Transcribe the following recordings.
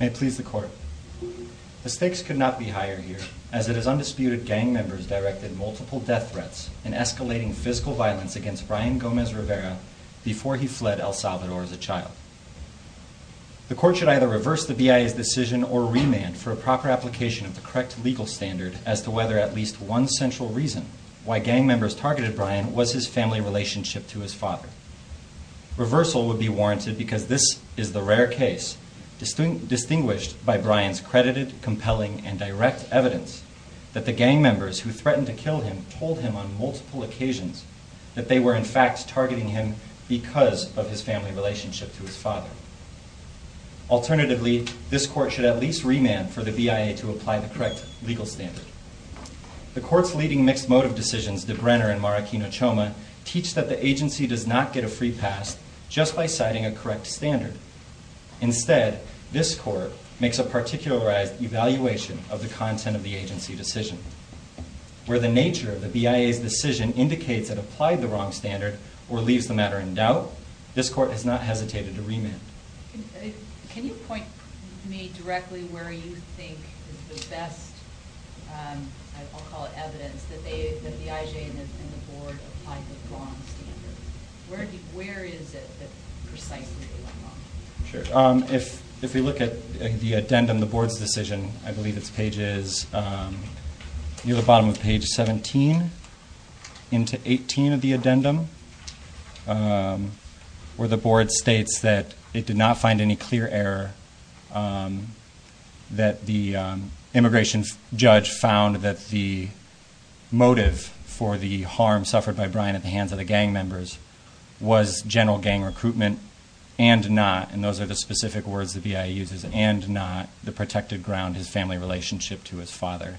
May it please the Court. The stakes could not be higher here, as it is undisputed gang members directed multiple death threats and escalating physical violence against Brian Gomez-Rivera before he fled El Salvador as a child. The Court should either reverse the BIA's decision or remand for a proper application of the correct legal standard as to whether at least one central reason why gang members targeted Brian was his family relationship to his father. Reversal would be warranted because this is the rare case, distinguished by Brian's credited, compelling, and direct evidence that the gang members who threatened to kill him told him on multiple occasions that they were in fact targeting him because of his family relationship to his father. Alternatively, this Court should at least remand for the BIA to apply the correct legal standard. The Court's leading mixed motive decisions, DeBrenner v. Marraquino-Choma, teach that the agency does not get a free pass just by citing a correct standard. Instead, this Court makes a particularized evaluation of the content of the agency decision. Where the nature of the BIA's decision indicates it applied the wrong standard or leaves the matter in doubt, this Court has not hesitated to remand. Can you point me directly where you think is the best, I'll call it evidence, that the IJ and the Board applied the wrong standard? Where is it that precisely they went wrong? Sure. If we look at the addendum, the Board's decision, I believe it's pages, you have the bottom of page 17 into 18 of the addendum where the Board states that it did not find any clear error that the immigration judge found that the motive for the harm suffered by Brian at the hands of the gang members was general gang recruitment and not, and those are the specific words the BIA uses, and not the protected ground, his family relationship to his father.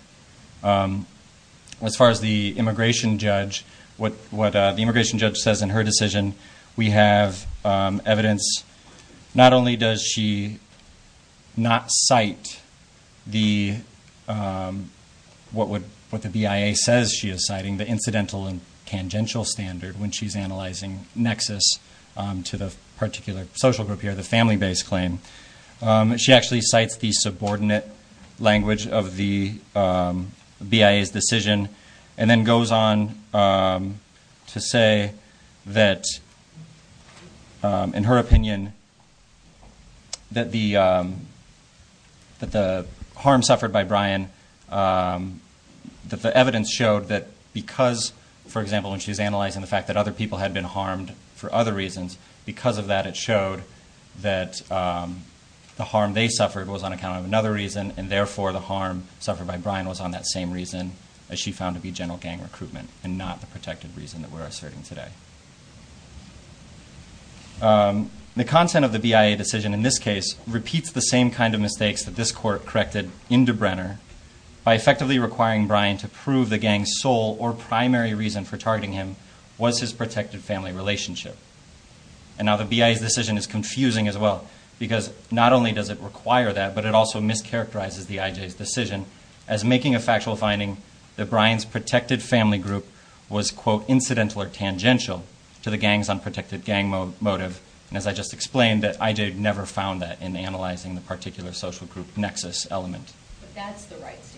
As far as the immigration judge, what the immigration judge says in her decision, we have evidence, not only does she not cite what the BIA says she is citing, the incidental and tangential standard, when she's analyzing nexus to the particular social group here, the family-based claim, she actually cites the subordinate language of the BIA's decision and then goes on to say that, in her opinion, that the harm suffered by Brian, that the evidence showed that because, for example, when she's analyzing the fact that other people had been harmed for other reasons, because of that it showed that the harm they suffered was on account of another reason, and therefore the harm suffered by Brian was on that same reason that she found to be general gang recruitment and not the protected reason that we're asserting today. The content of the BIA decision in this case repeats the same kind of mistakes that this Court corrected in DeBrenner by effectively requiring Brian to prove the gang's sole or primary reason for targeting him was his protected family relationship. And now the BIA's decision is confusing as well, because not only does it require that, but it also mischaracterizes the IJ's decision as making a factual finding that Brian's protected family group was, quote, incidental or tangential to the gang's unprotected gang motive, and as I just explained, that IJ had never found that in analyzing the particular social group nexus element. But that's the right standard.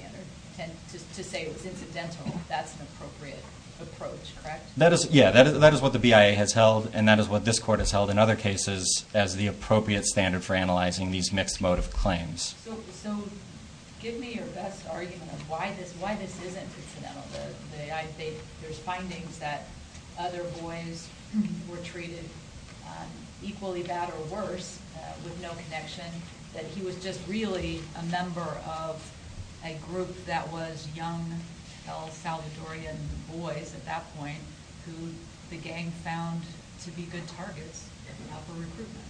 To say it was incidental, that's an appropriate approach, correct? Yeah, that is what the BIA has held, and that is what this Court has held in other cases as the appropriate standard for analyzing these mixed motive claims. So give me your best argument of why this isn't incidental. There's findings that other boys were treated equally bad or worse with no connection, and that he was just really a member of a group that was young El Salvadorian boys at that point who the gang found to be good targets for recruitment.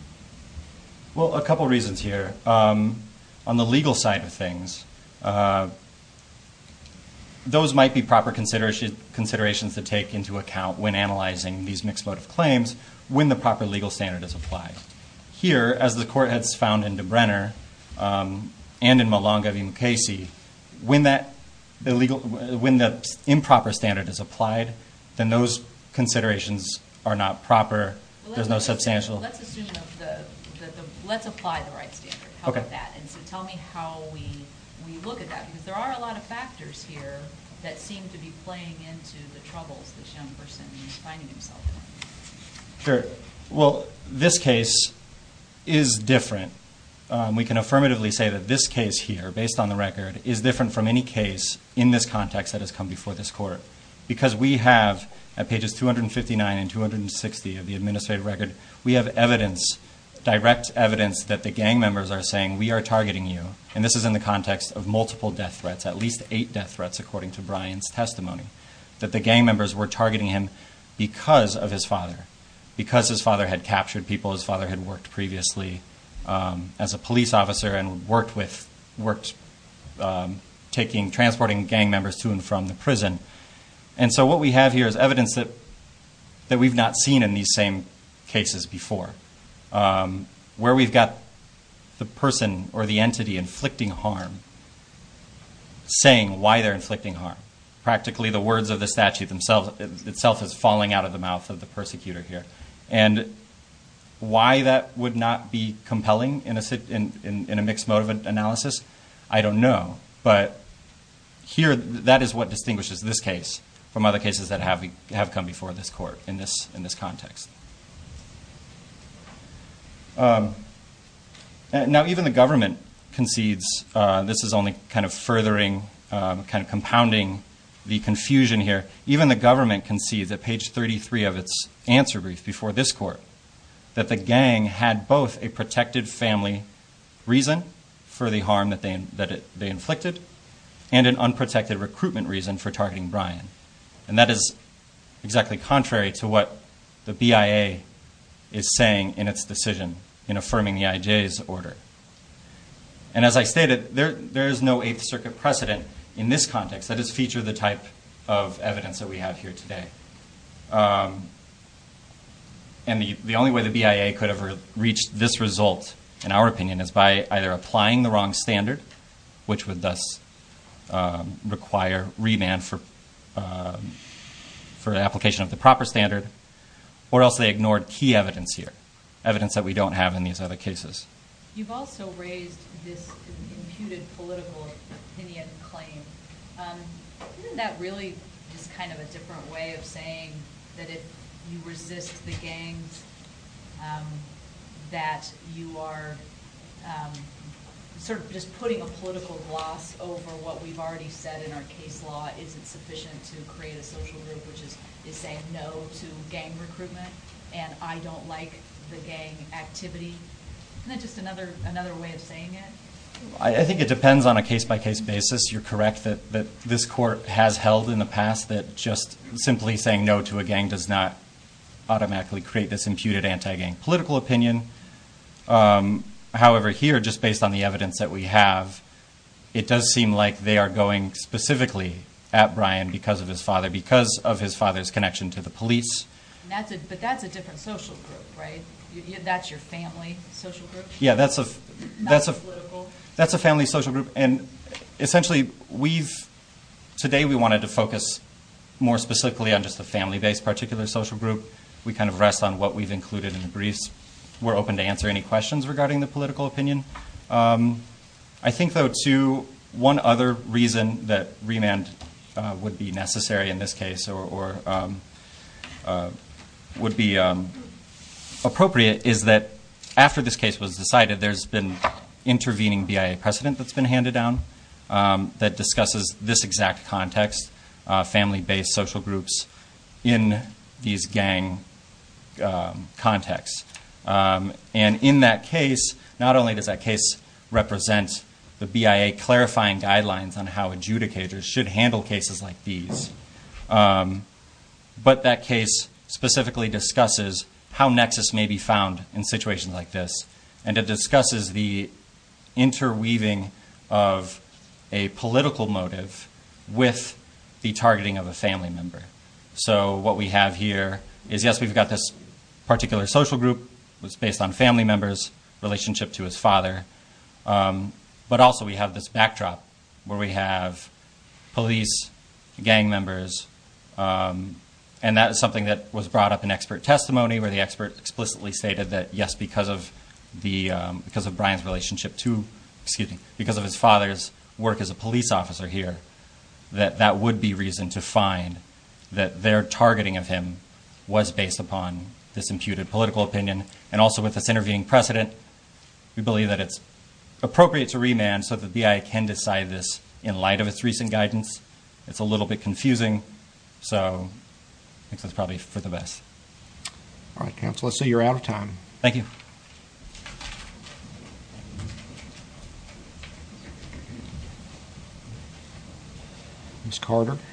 Well, a couple reasons here. On the legal side of things, those might be proper considerations to take into account when analyzing these mixed motive claims when the proper legal standard is applied. Here, as the Court has found in DeBrenner and in Malanga v. Mukasey, when the improper standard is applied, then those considerations are not proper. There's no substantial... Let's apply the right standard. How about that? And so tell me how we look at that, because there are a lot of factors here that seem to be playing into the troubles this young person is finding himself in. Sure. Well, this case is different. We can affirmatively say that this case here, based on the record, is different from any case in this context that has come before this Court because we have, at pages 259 and 260 of the administrative record, we have evidence, direct evidence, that the gang members are saying, we are targeting you, and this is in the context of multiple death threats, at least eight death threats according to Brian's testimony, that the gang members were targeting him because of his father, because his father had captured people his father had worked previously as a police officer and worked taking, transporting gang members to and from the prison. And so what we have here is evidence that we've not seen in these same cases before, where we've got the person or the entity inflicting harm saying why they're inflicting harm. Practically the words of the statute itself is falling out of the mouth of the persecutor here. And why that would not be compelling in a mixed mode of analysis, I don't know. But here, that is what distinguishes this case from other cases that have come before this Court in this context. Now even the government concedes, this is only kind of furthering, kind of compounding the confusion here, even the government concedes at page 33 of its answer brief before this Court, that the gang had both a protected family reason for the harm that they inflicted and an unprotected recruitment reason for targeting Brian. And that is exactly contrary to what the BIA is saying in its decision in affirming the IJ's order. And as I stated, there is no Eighth Circuit precedent in this context that has featured the type of evidence that we have here today. And the only way the BIA could have reached this result, in our opinion, is by either applying the wrong standard, which would thus require remand for application of the proper standard, or else they ignored key evidence here, evidence that we don't have in these other cases. You've also raised this imputed political opinion claim. Isn't that really just kind of a different way of saying that if you resist the gangs, that you are sort of just putting a political gloss over what we've already said in our case law? Is it sufficient to create a social group which is saying no to gang recruitment and I don't like the gang activity? Isn't that just another way of saying it? I think it depends on a case-by-case basis. You're correct that this Court has held in the past that just simply saying no to a gang does not automatically create this imputed anti-gang political opinion. However, here, just based on the evidence that we have, it does seem like they are going specifically at Brian because of his father, because of his father's connection to the police. But that's a different social group, right? That's your family social group? Yeah, that's a family social group. Essentially, today we wanted to focus more specifically on just the family-based particular social group. We kind of rest on what we've included in the briefs. We're open to answer any questions regarding the political opinion. I think, though, too, one other reason that remand would be necessary in this case or would be appropriate is that after this case was decided, there's been intervening BIA precedent that's been handed down that discusses this exact context, family-based social groups in these gang contexts. And in that case, not only does that case represent the BIA clarifying guidelines on how adjudicators should handle cases like these, but that case specifically discusses how nexus may be found in situations like this and it discusses the interweaving of a political motive with the targeting of a family member. So what we have here is, yes, we've got this particular social group that's based on family members' relationship to his father, but also we have this backdrop where we have police, gang members, and that is something that was brought up in expert testimony where the expert explicitly stated that, yes, because of Brian's relationship to, excuse me, because of his father's work as a police officer here, that that would be reason to find that their targeting of him was based upon this imputed political opinion. And also with this intervening precedent, we believe that it's appropriate to remand so that the BIA can decide this in light of its recent guidance. It's a little bit confusing, so I think that's probably for the best. All right, counsel, let's say you're out of time. Thank you. Ms. Carter? You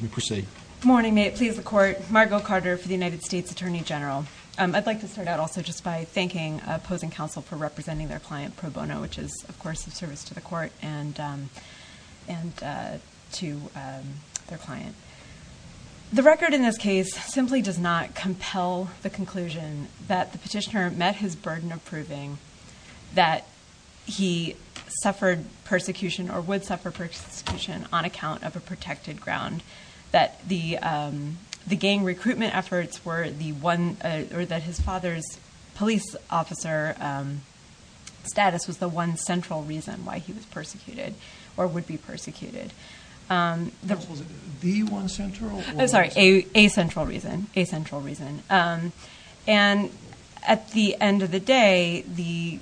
may proceed. Good morning. May it please the Court, Margo Carter for the United States Attorney General. I'd like to start out also just by thanking opposing counsel for representing their client, Pro Bono, which is, of course, of service to the Court and to their client. The record in this case simply does not compel the conclusion that the petitioner met his burden of proving that he suffered persecution or would suffer persecution on account of a protected ground, that the gang recruitment efforts were the one or that his father's police officer status was the one central reason why he was persecuted or would be persecuted. Was it the one central? I'm sorry, a central reason, a central reason. And at the end of the day, the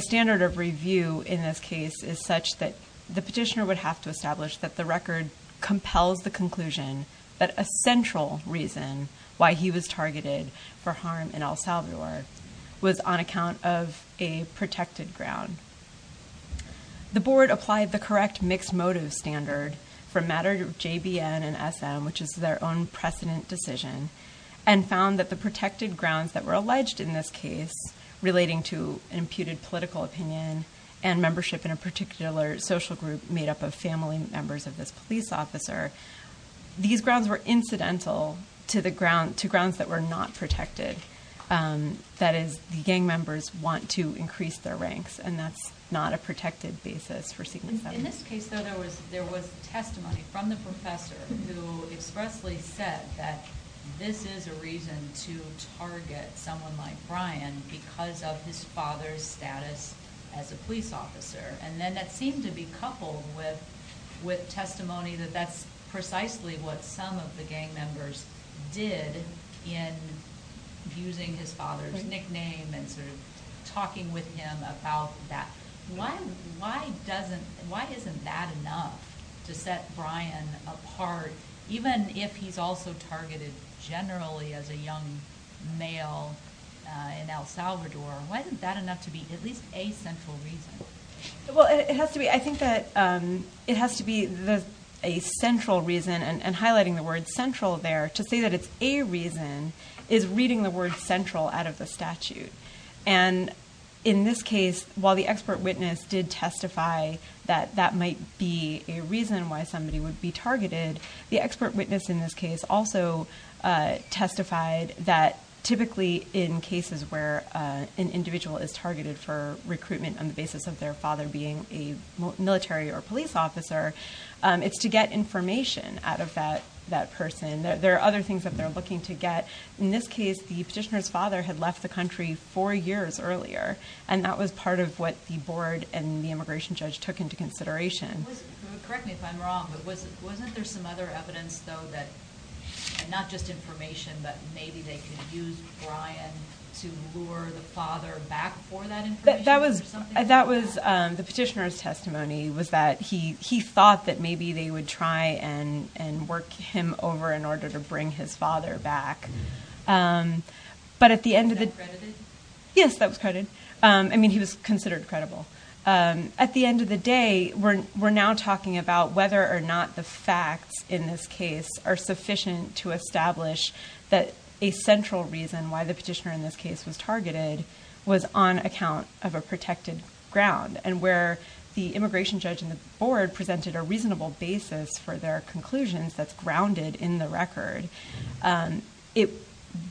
standard of review in this case is such that the petitioner would have to establish that the record compels the conclusion that a central reason why he was targeted for harm in El Salvador was on account of a protected ground. The Board applied the correct mixed motive standard for matter of JBN and SM, which is their own precedent decision, and found that the protected grounds that were alleged in this case, relating to an imputed political opinion and membership in a particular social group made up of family members of this police officer, these grounds were incidental to grounds that were not protected. That is, the gang members want to increase their ranks, and that's not a protected basis for seeking settlement. In this case, though, there was testimony from the professor who expressly said that this is a reason to target someone like Brian because of his father's status as a police officer. And then that seemed to be coupled with testimony that that's precisely what some of the gang members did in using his father's nickname and sort of talking with him about that. Why isn't that enough to set Brian apart, even if he's also targeted generally as a young male in El Salvador? Why isn't that enough to be at least a central reason? Well, I think that it has to be a central reason, and highlighting the word central there, to say that it's a reason is reading the word central out of the statute. And in this case, while the expert witness did testify that that might be a reason why somebody would be targeted, the expert witness in this case also testified that typically in cases where an individual is targeted for recruitment on the basis of their father being a military or police officer, it's to get information out of that person. There are other things that they're looking to get. In this case, the petitioner's father had left the country four years earlier, and that was part of what the board and the immigration judge took into consideration. Correct me if I'm wrong, but wasn't there some other evidence, though, that not just information, but maybe they could use Brian to lure the father back for that information or something like that? The petitioner's testimony was that he thought that maybe they would try and work him over in order to bring his father back. Was that credited? Yes, that was credited. I mean, he was considered credible. At the end of the day, we're now talking about whether or not the facts in this case are sufficient to establish that a central reason why the petitioner in this case was targeted was on account of a protected ground, and where the immigration judge and the board presented a reasonable basis for their conclusions that's grounded in the record, it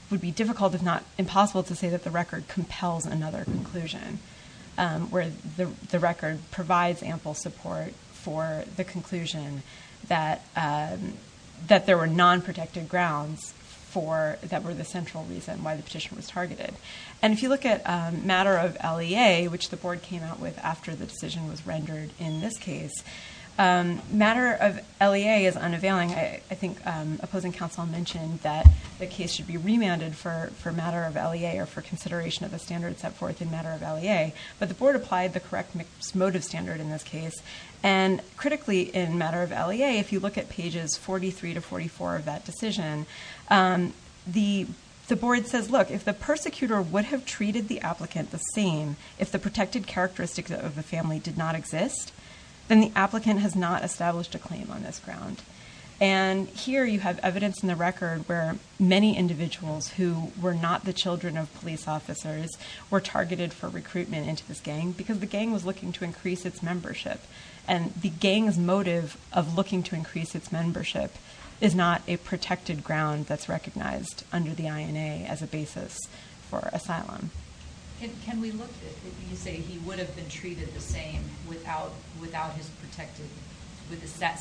would be difficult, if not impossible, to say that the record compels another conclusion, where the record provides ample support for the conclusion that there were non-protected grounds that were the central reason why the petition was targeted. And if you look at matter of LEA, which the board came out with after the decision was rendered in this case, matter of LEA is unavailing. I think opposing counsel mentioned that the case should be remanded for matter of LEA or for consideration of the standards set forth in matter of LEA, but the board applied the correct motive standard in this case. And critically, in matter of LEA, if you look at pages 43 to 44 of that decision, the board says, look, if the persecutor would have treated the applicant the same, if the protected characteristics of the family did not exist, then the applicant has not established a claim on this ground. And here you have evidence in the record where many individuals who were not the children of police officers were targeted for recruitment into this gang because the gang was looking to increase its membership. And the gang's motive of looking to increase its membership is not a protected ground that's recognized under the INA as a basis for asylum. Can we look at it? You say he would have been treated the same without his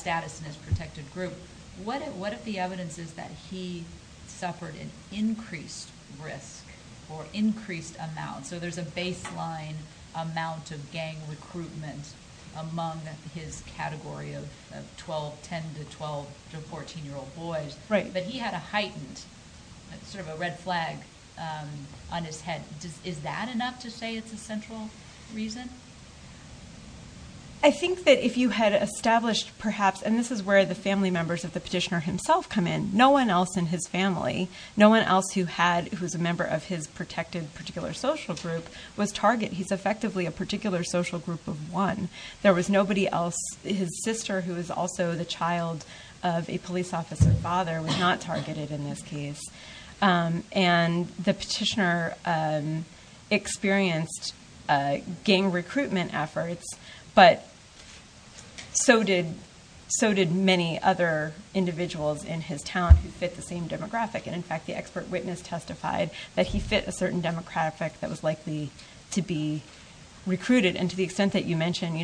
status in his protected group. What if the evidence is that he suffered an increased risk or increased amount? So there's a baseline amount of gang recruitment among his category of 10 to 12 to 14-year-old boys. But he had a heightened sort of a red flag on his head. Is that enough to say it's a central reason? I think that if you had established perhaps, and this is where the family members of the petitioner himself come in, no one else in his family, no one else who was a member of his protected particular social group was targeted. He's effectively a particular social group of one. There was nobody else. His sister, who is also the child of a police officer's father, was not targeted in this case. And the petitioner experienced gang recruitment efforts, but so did many other individuals in his town who fit the same demographic. And, in fact, the expert witness testified that he fit a certain demographic that was likely to be recruited. And to the extent that you mentioned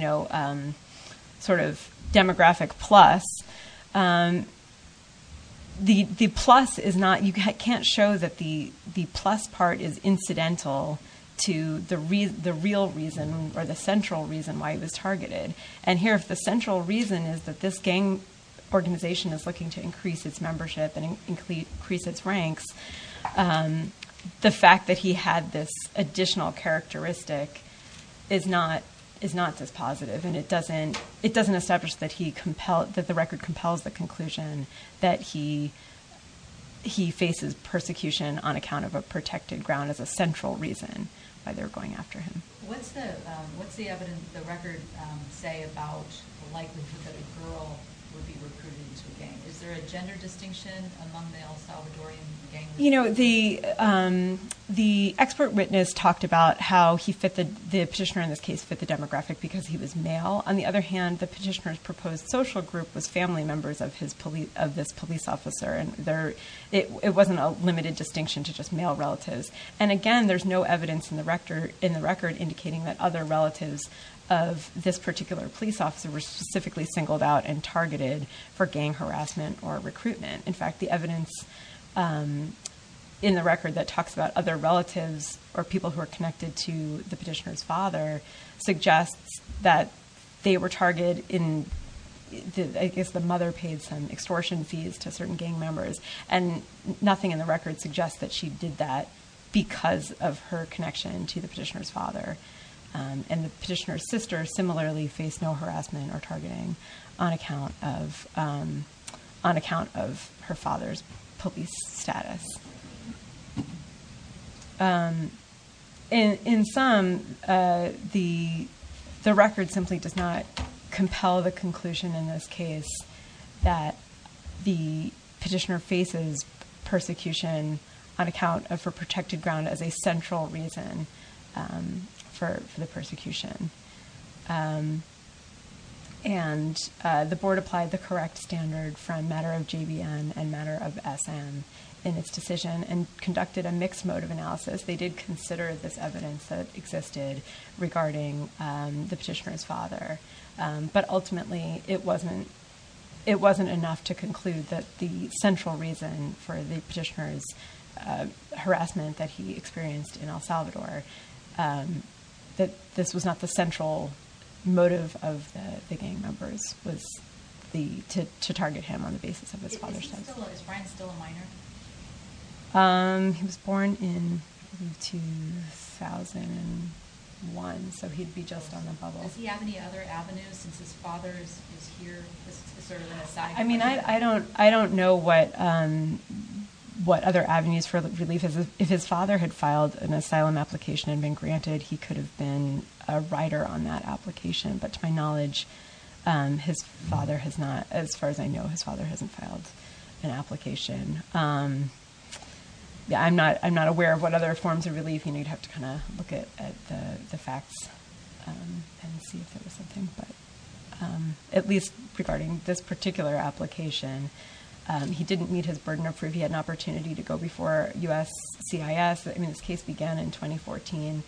sort of demographic plus, the plus is not – you can't show that the plus part is incidental to the real reason or the central reason why he was targeted. And here, if the central reason is that this gang organization is looking to increase its membership and increase its ranks, the fact that he had this additional characteristic is not this positive. And it doesn't establish that the record compels the conclusion that he faces persecution on account of a protected ground as a central reason why they're going after him. What's the record say about the likelihood that a girl would be recruited into a gang? Is there a gender distinction among male Salvadorian gang members? You know, the expert witness talked about how the petitioner in this case fit the demographic because he was male. On the other hand, the petitioner's proposed social group was family members of this police officer. And it wasn't a limited distinction to just male relatives. And again, there's no evidence in the record indicating that other relatives of this particular police officer were specifically singled out and targeted for gang harassment or recruitment. In fact, the evidence in the record that talks about other relatives or people who are connected to the petitioner's father suggests that they were targeted in – I guess the mother paid some extortion fees to certain gang members. And nothing in the record suggests that she did that because of her connection to the petitioner's father. And the petitioner's sister similarly faced no harassment or targeting on account of her father's police status. In sum, the record simply does not compel the conclusion in this case that the petitioner faces persecution on account of her protected ground as a central reason for the persecution. And the board applied the correct standard from matter of JVM and matter of SM in its decision and conducted a mixed mode of analysis. They did consider this evidence that existed regarding the petitioner's father. But ultimately, it wasn't enough to conclude that the central reason for the petitioner's harassment that he experienced in El Salvador, that this was not the central motive of the gang members was to target him on the basis of his father's status. Is Brian still a minor? He was born in 2001, so he'd be just on the bubble. Does he have any other avenues since his father is here as sort of an aside? I mean, I don't know what other avenues for relief. If his father had filed an asylum application and been granted, he could have been a rider on that application. But to my knowledge, his father has not. As far as I know, his father hasn't filed an application. Yeah, I'm not aware of what other forms of relief. You'd have to kind of look at the facts and see if there was something. But at least regarding this particular application, he didn't meet his burden of proof. He had an opportunity to go before U.S. CIS. I mean, this case began in 2014.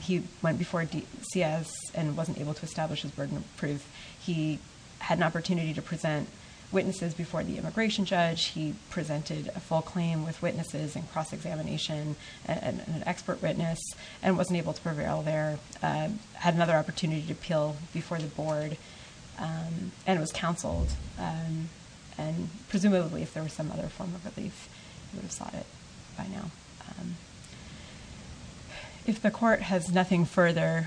He went before CIS and wasn't able to establish his burden of proof. He had an opportunity to present witnesses before the immigration judge. He presented a full claim with witnesses and cross-examination and an expert witness and wasn't able to prevail there. Had another opportunity to appeal before the board and was counseled. And presumably, if there was some other form of relief, he would have sought it by now. If the court has nothing further,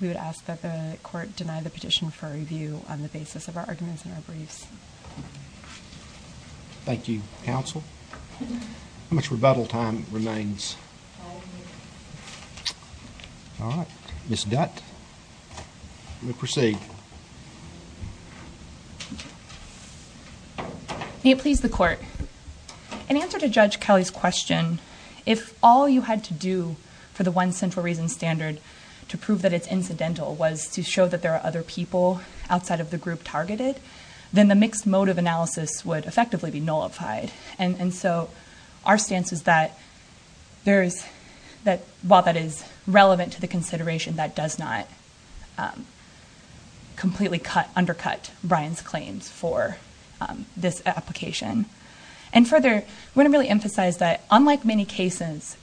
we would ask that the court deny the petition for review on the basis of our arguments and our briefs. Thank you, counsel. How much rebuttal time remains? All of it. All right. Ms. Dutt, you may proceed. May it please the court. In answer to Judge Kelly's question, if all you had to do for the one central reason standard to prove that it's incidental was to show that there are other people outside of the group targeted, then the mixed motive analysis would effectively be nullified. And so our stance is that while that is relevant to the consideration, that does not completely undercut Brian's claims for this application. And further, I want to really emphasize that unlike many cases,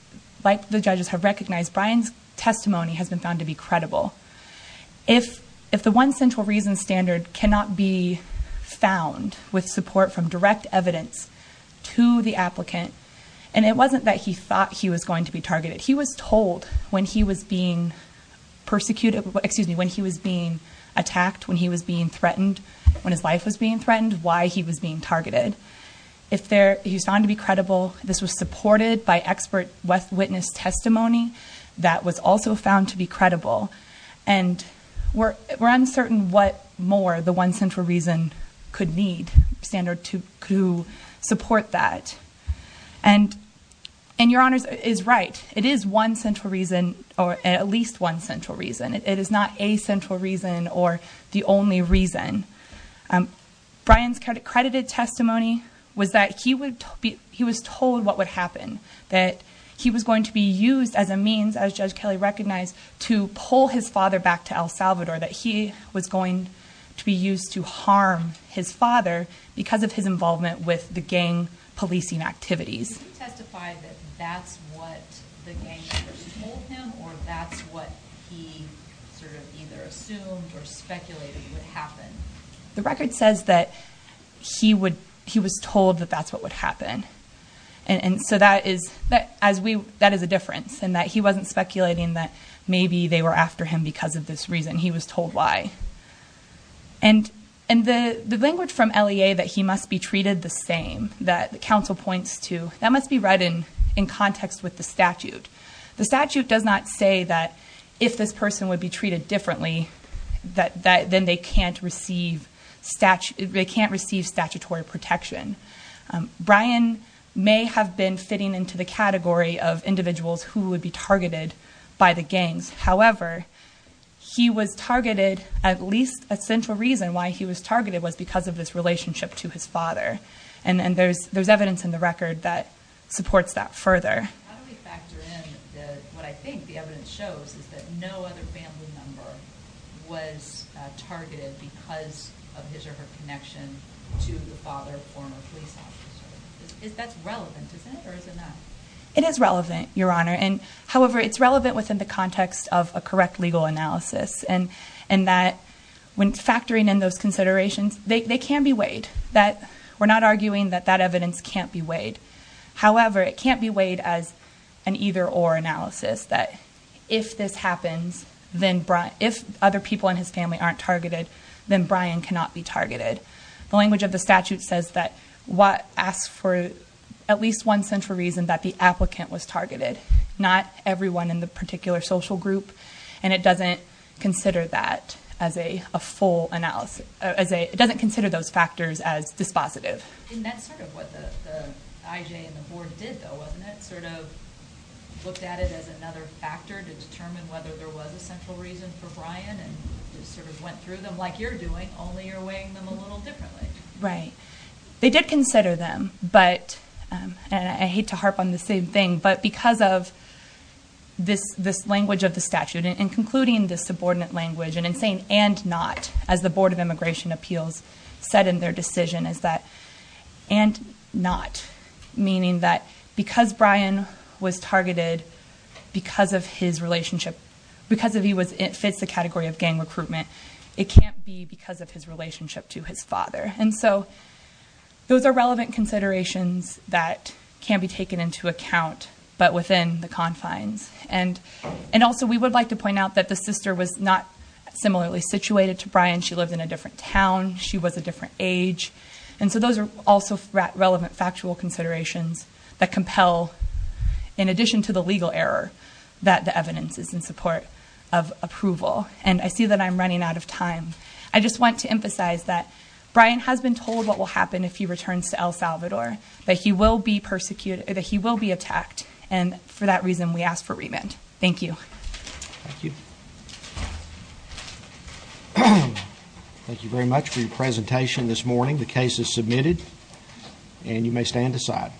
like the judges have recognized, Brian's testimony has been found to be credible. If the one central reason standard cannot be found with support from direct evidence to the applicant, and it wasn't that he thought he was going to be targeted. He was told when he was being persecuted, excuse me, when he was being attacked, when he was being threatened, when his life was being threatened, why he was being targeted. If he's found to be credible, this was supported by expert witness testimony that was also found to be credible. And we're uncertain what more the one central reason could need standard to support that. And your honors is right. It is one central reason, or at least one central reason. It is not a central reason or the only reason. Brian's credited testimony was that he was told what would happen. That he was going to be used as a means, as Judge Kelly recognized, to pull his father back to El Salvador. That he was going to be used to harm his father because of his involvement with the gang policing activities. Can you testify that that's what the gang members told him, or that's what he sort of either assumed or speculated would happen? The record says that he was told that that's what would happen. And so that is a difference, in that he wasn't speculating that maybe they were after him because of this reason. He was told why. And the language from LEA that he must be treated the same, that the counsel points to, that must be read in context with the statute. The statute does not say that if this person would be treated differently, then they can't receive statutory protection. Brian may have been fitting into the category of individuals who would be targeted by the gangs. However, he was targeted, at least a central reason why he was targeted was because of this relationship to his father. And there's evidence in the record that supports that further. How do we factor in what I think the evidence shows is that no other family member was targeted because of his or her connection to the father of a former police officer? That's relevant, isn't it, or is it not? It is relevant, Your Honor. However, it's relevant within the context of a correct legal analysis, and that when factoring in those considerations, they can be weighed. We're not arguing that that evidence can't be weighed. However, it can't be weighed as an either-or analysis, that if this happens, if other people in his family aren't targeted, then Brian cannot be targeted. The language of the statute says that it asks for at least one central reason that the applicant was targeted, not everyone in the particular social group. And it doesn't consider that as a full analysis. It doesn't consider those factors as dispositive. And that's sort of what the IJ and the board did, though, wasn't it, sort of looked at it as another factor to determine whether there was a central reason for Brian and just sort of went through them like you're doing, only you're weighing them a little differently. Right. They did consider them, and I hate to harp on the same thing, but because of this language of the statute and concluding this subordinate language and saying and not, as the Board of Immigration Appeals said in their decision, is that and not, meaning that because Brian was targeted because of his relationship, because he fits the category of gang recruitment, it can't be because of his relationship to his father. And so those are relevant considerations that can be taken into account, but within the confines. And also we would like to point out that the sister was not similarly situated to Brian. She lived in a different town. She was a different age. And so those are also relevant factual considerations that compel, in addition to the legal error, that the evidence is in support of approval. And I see that I'm running out of time. I just want to emphasize that Brian has been told what will happen if he returns to El Salvador, that he will be persecuted, that he will be attacked. And for that reason, we ask for remand. Thank you. Thank you. Thank you very much for your presentation this morning. The case is submitted, and you may stand aside.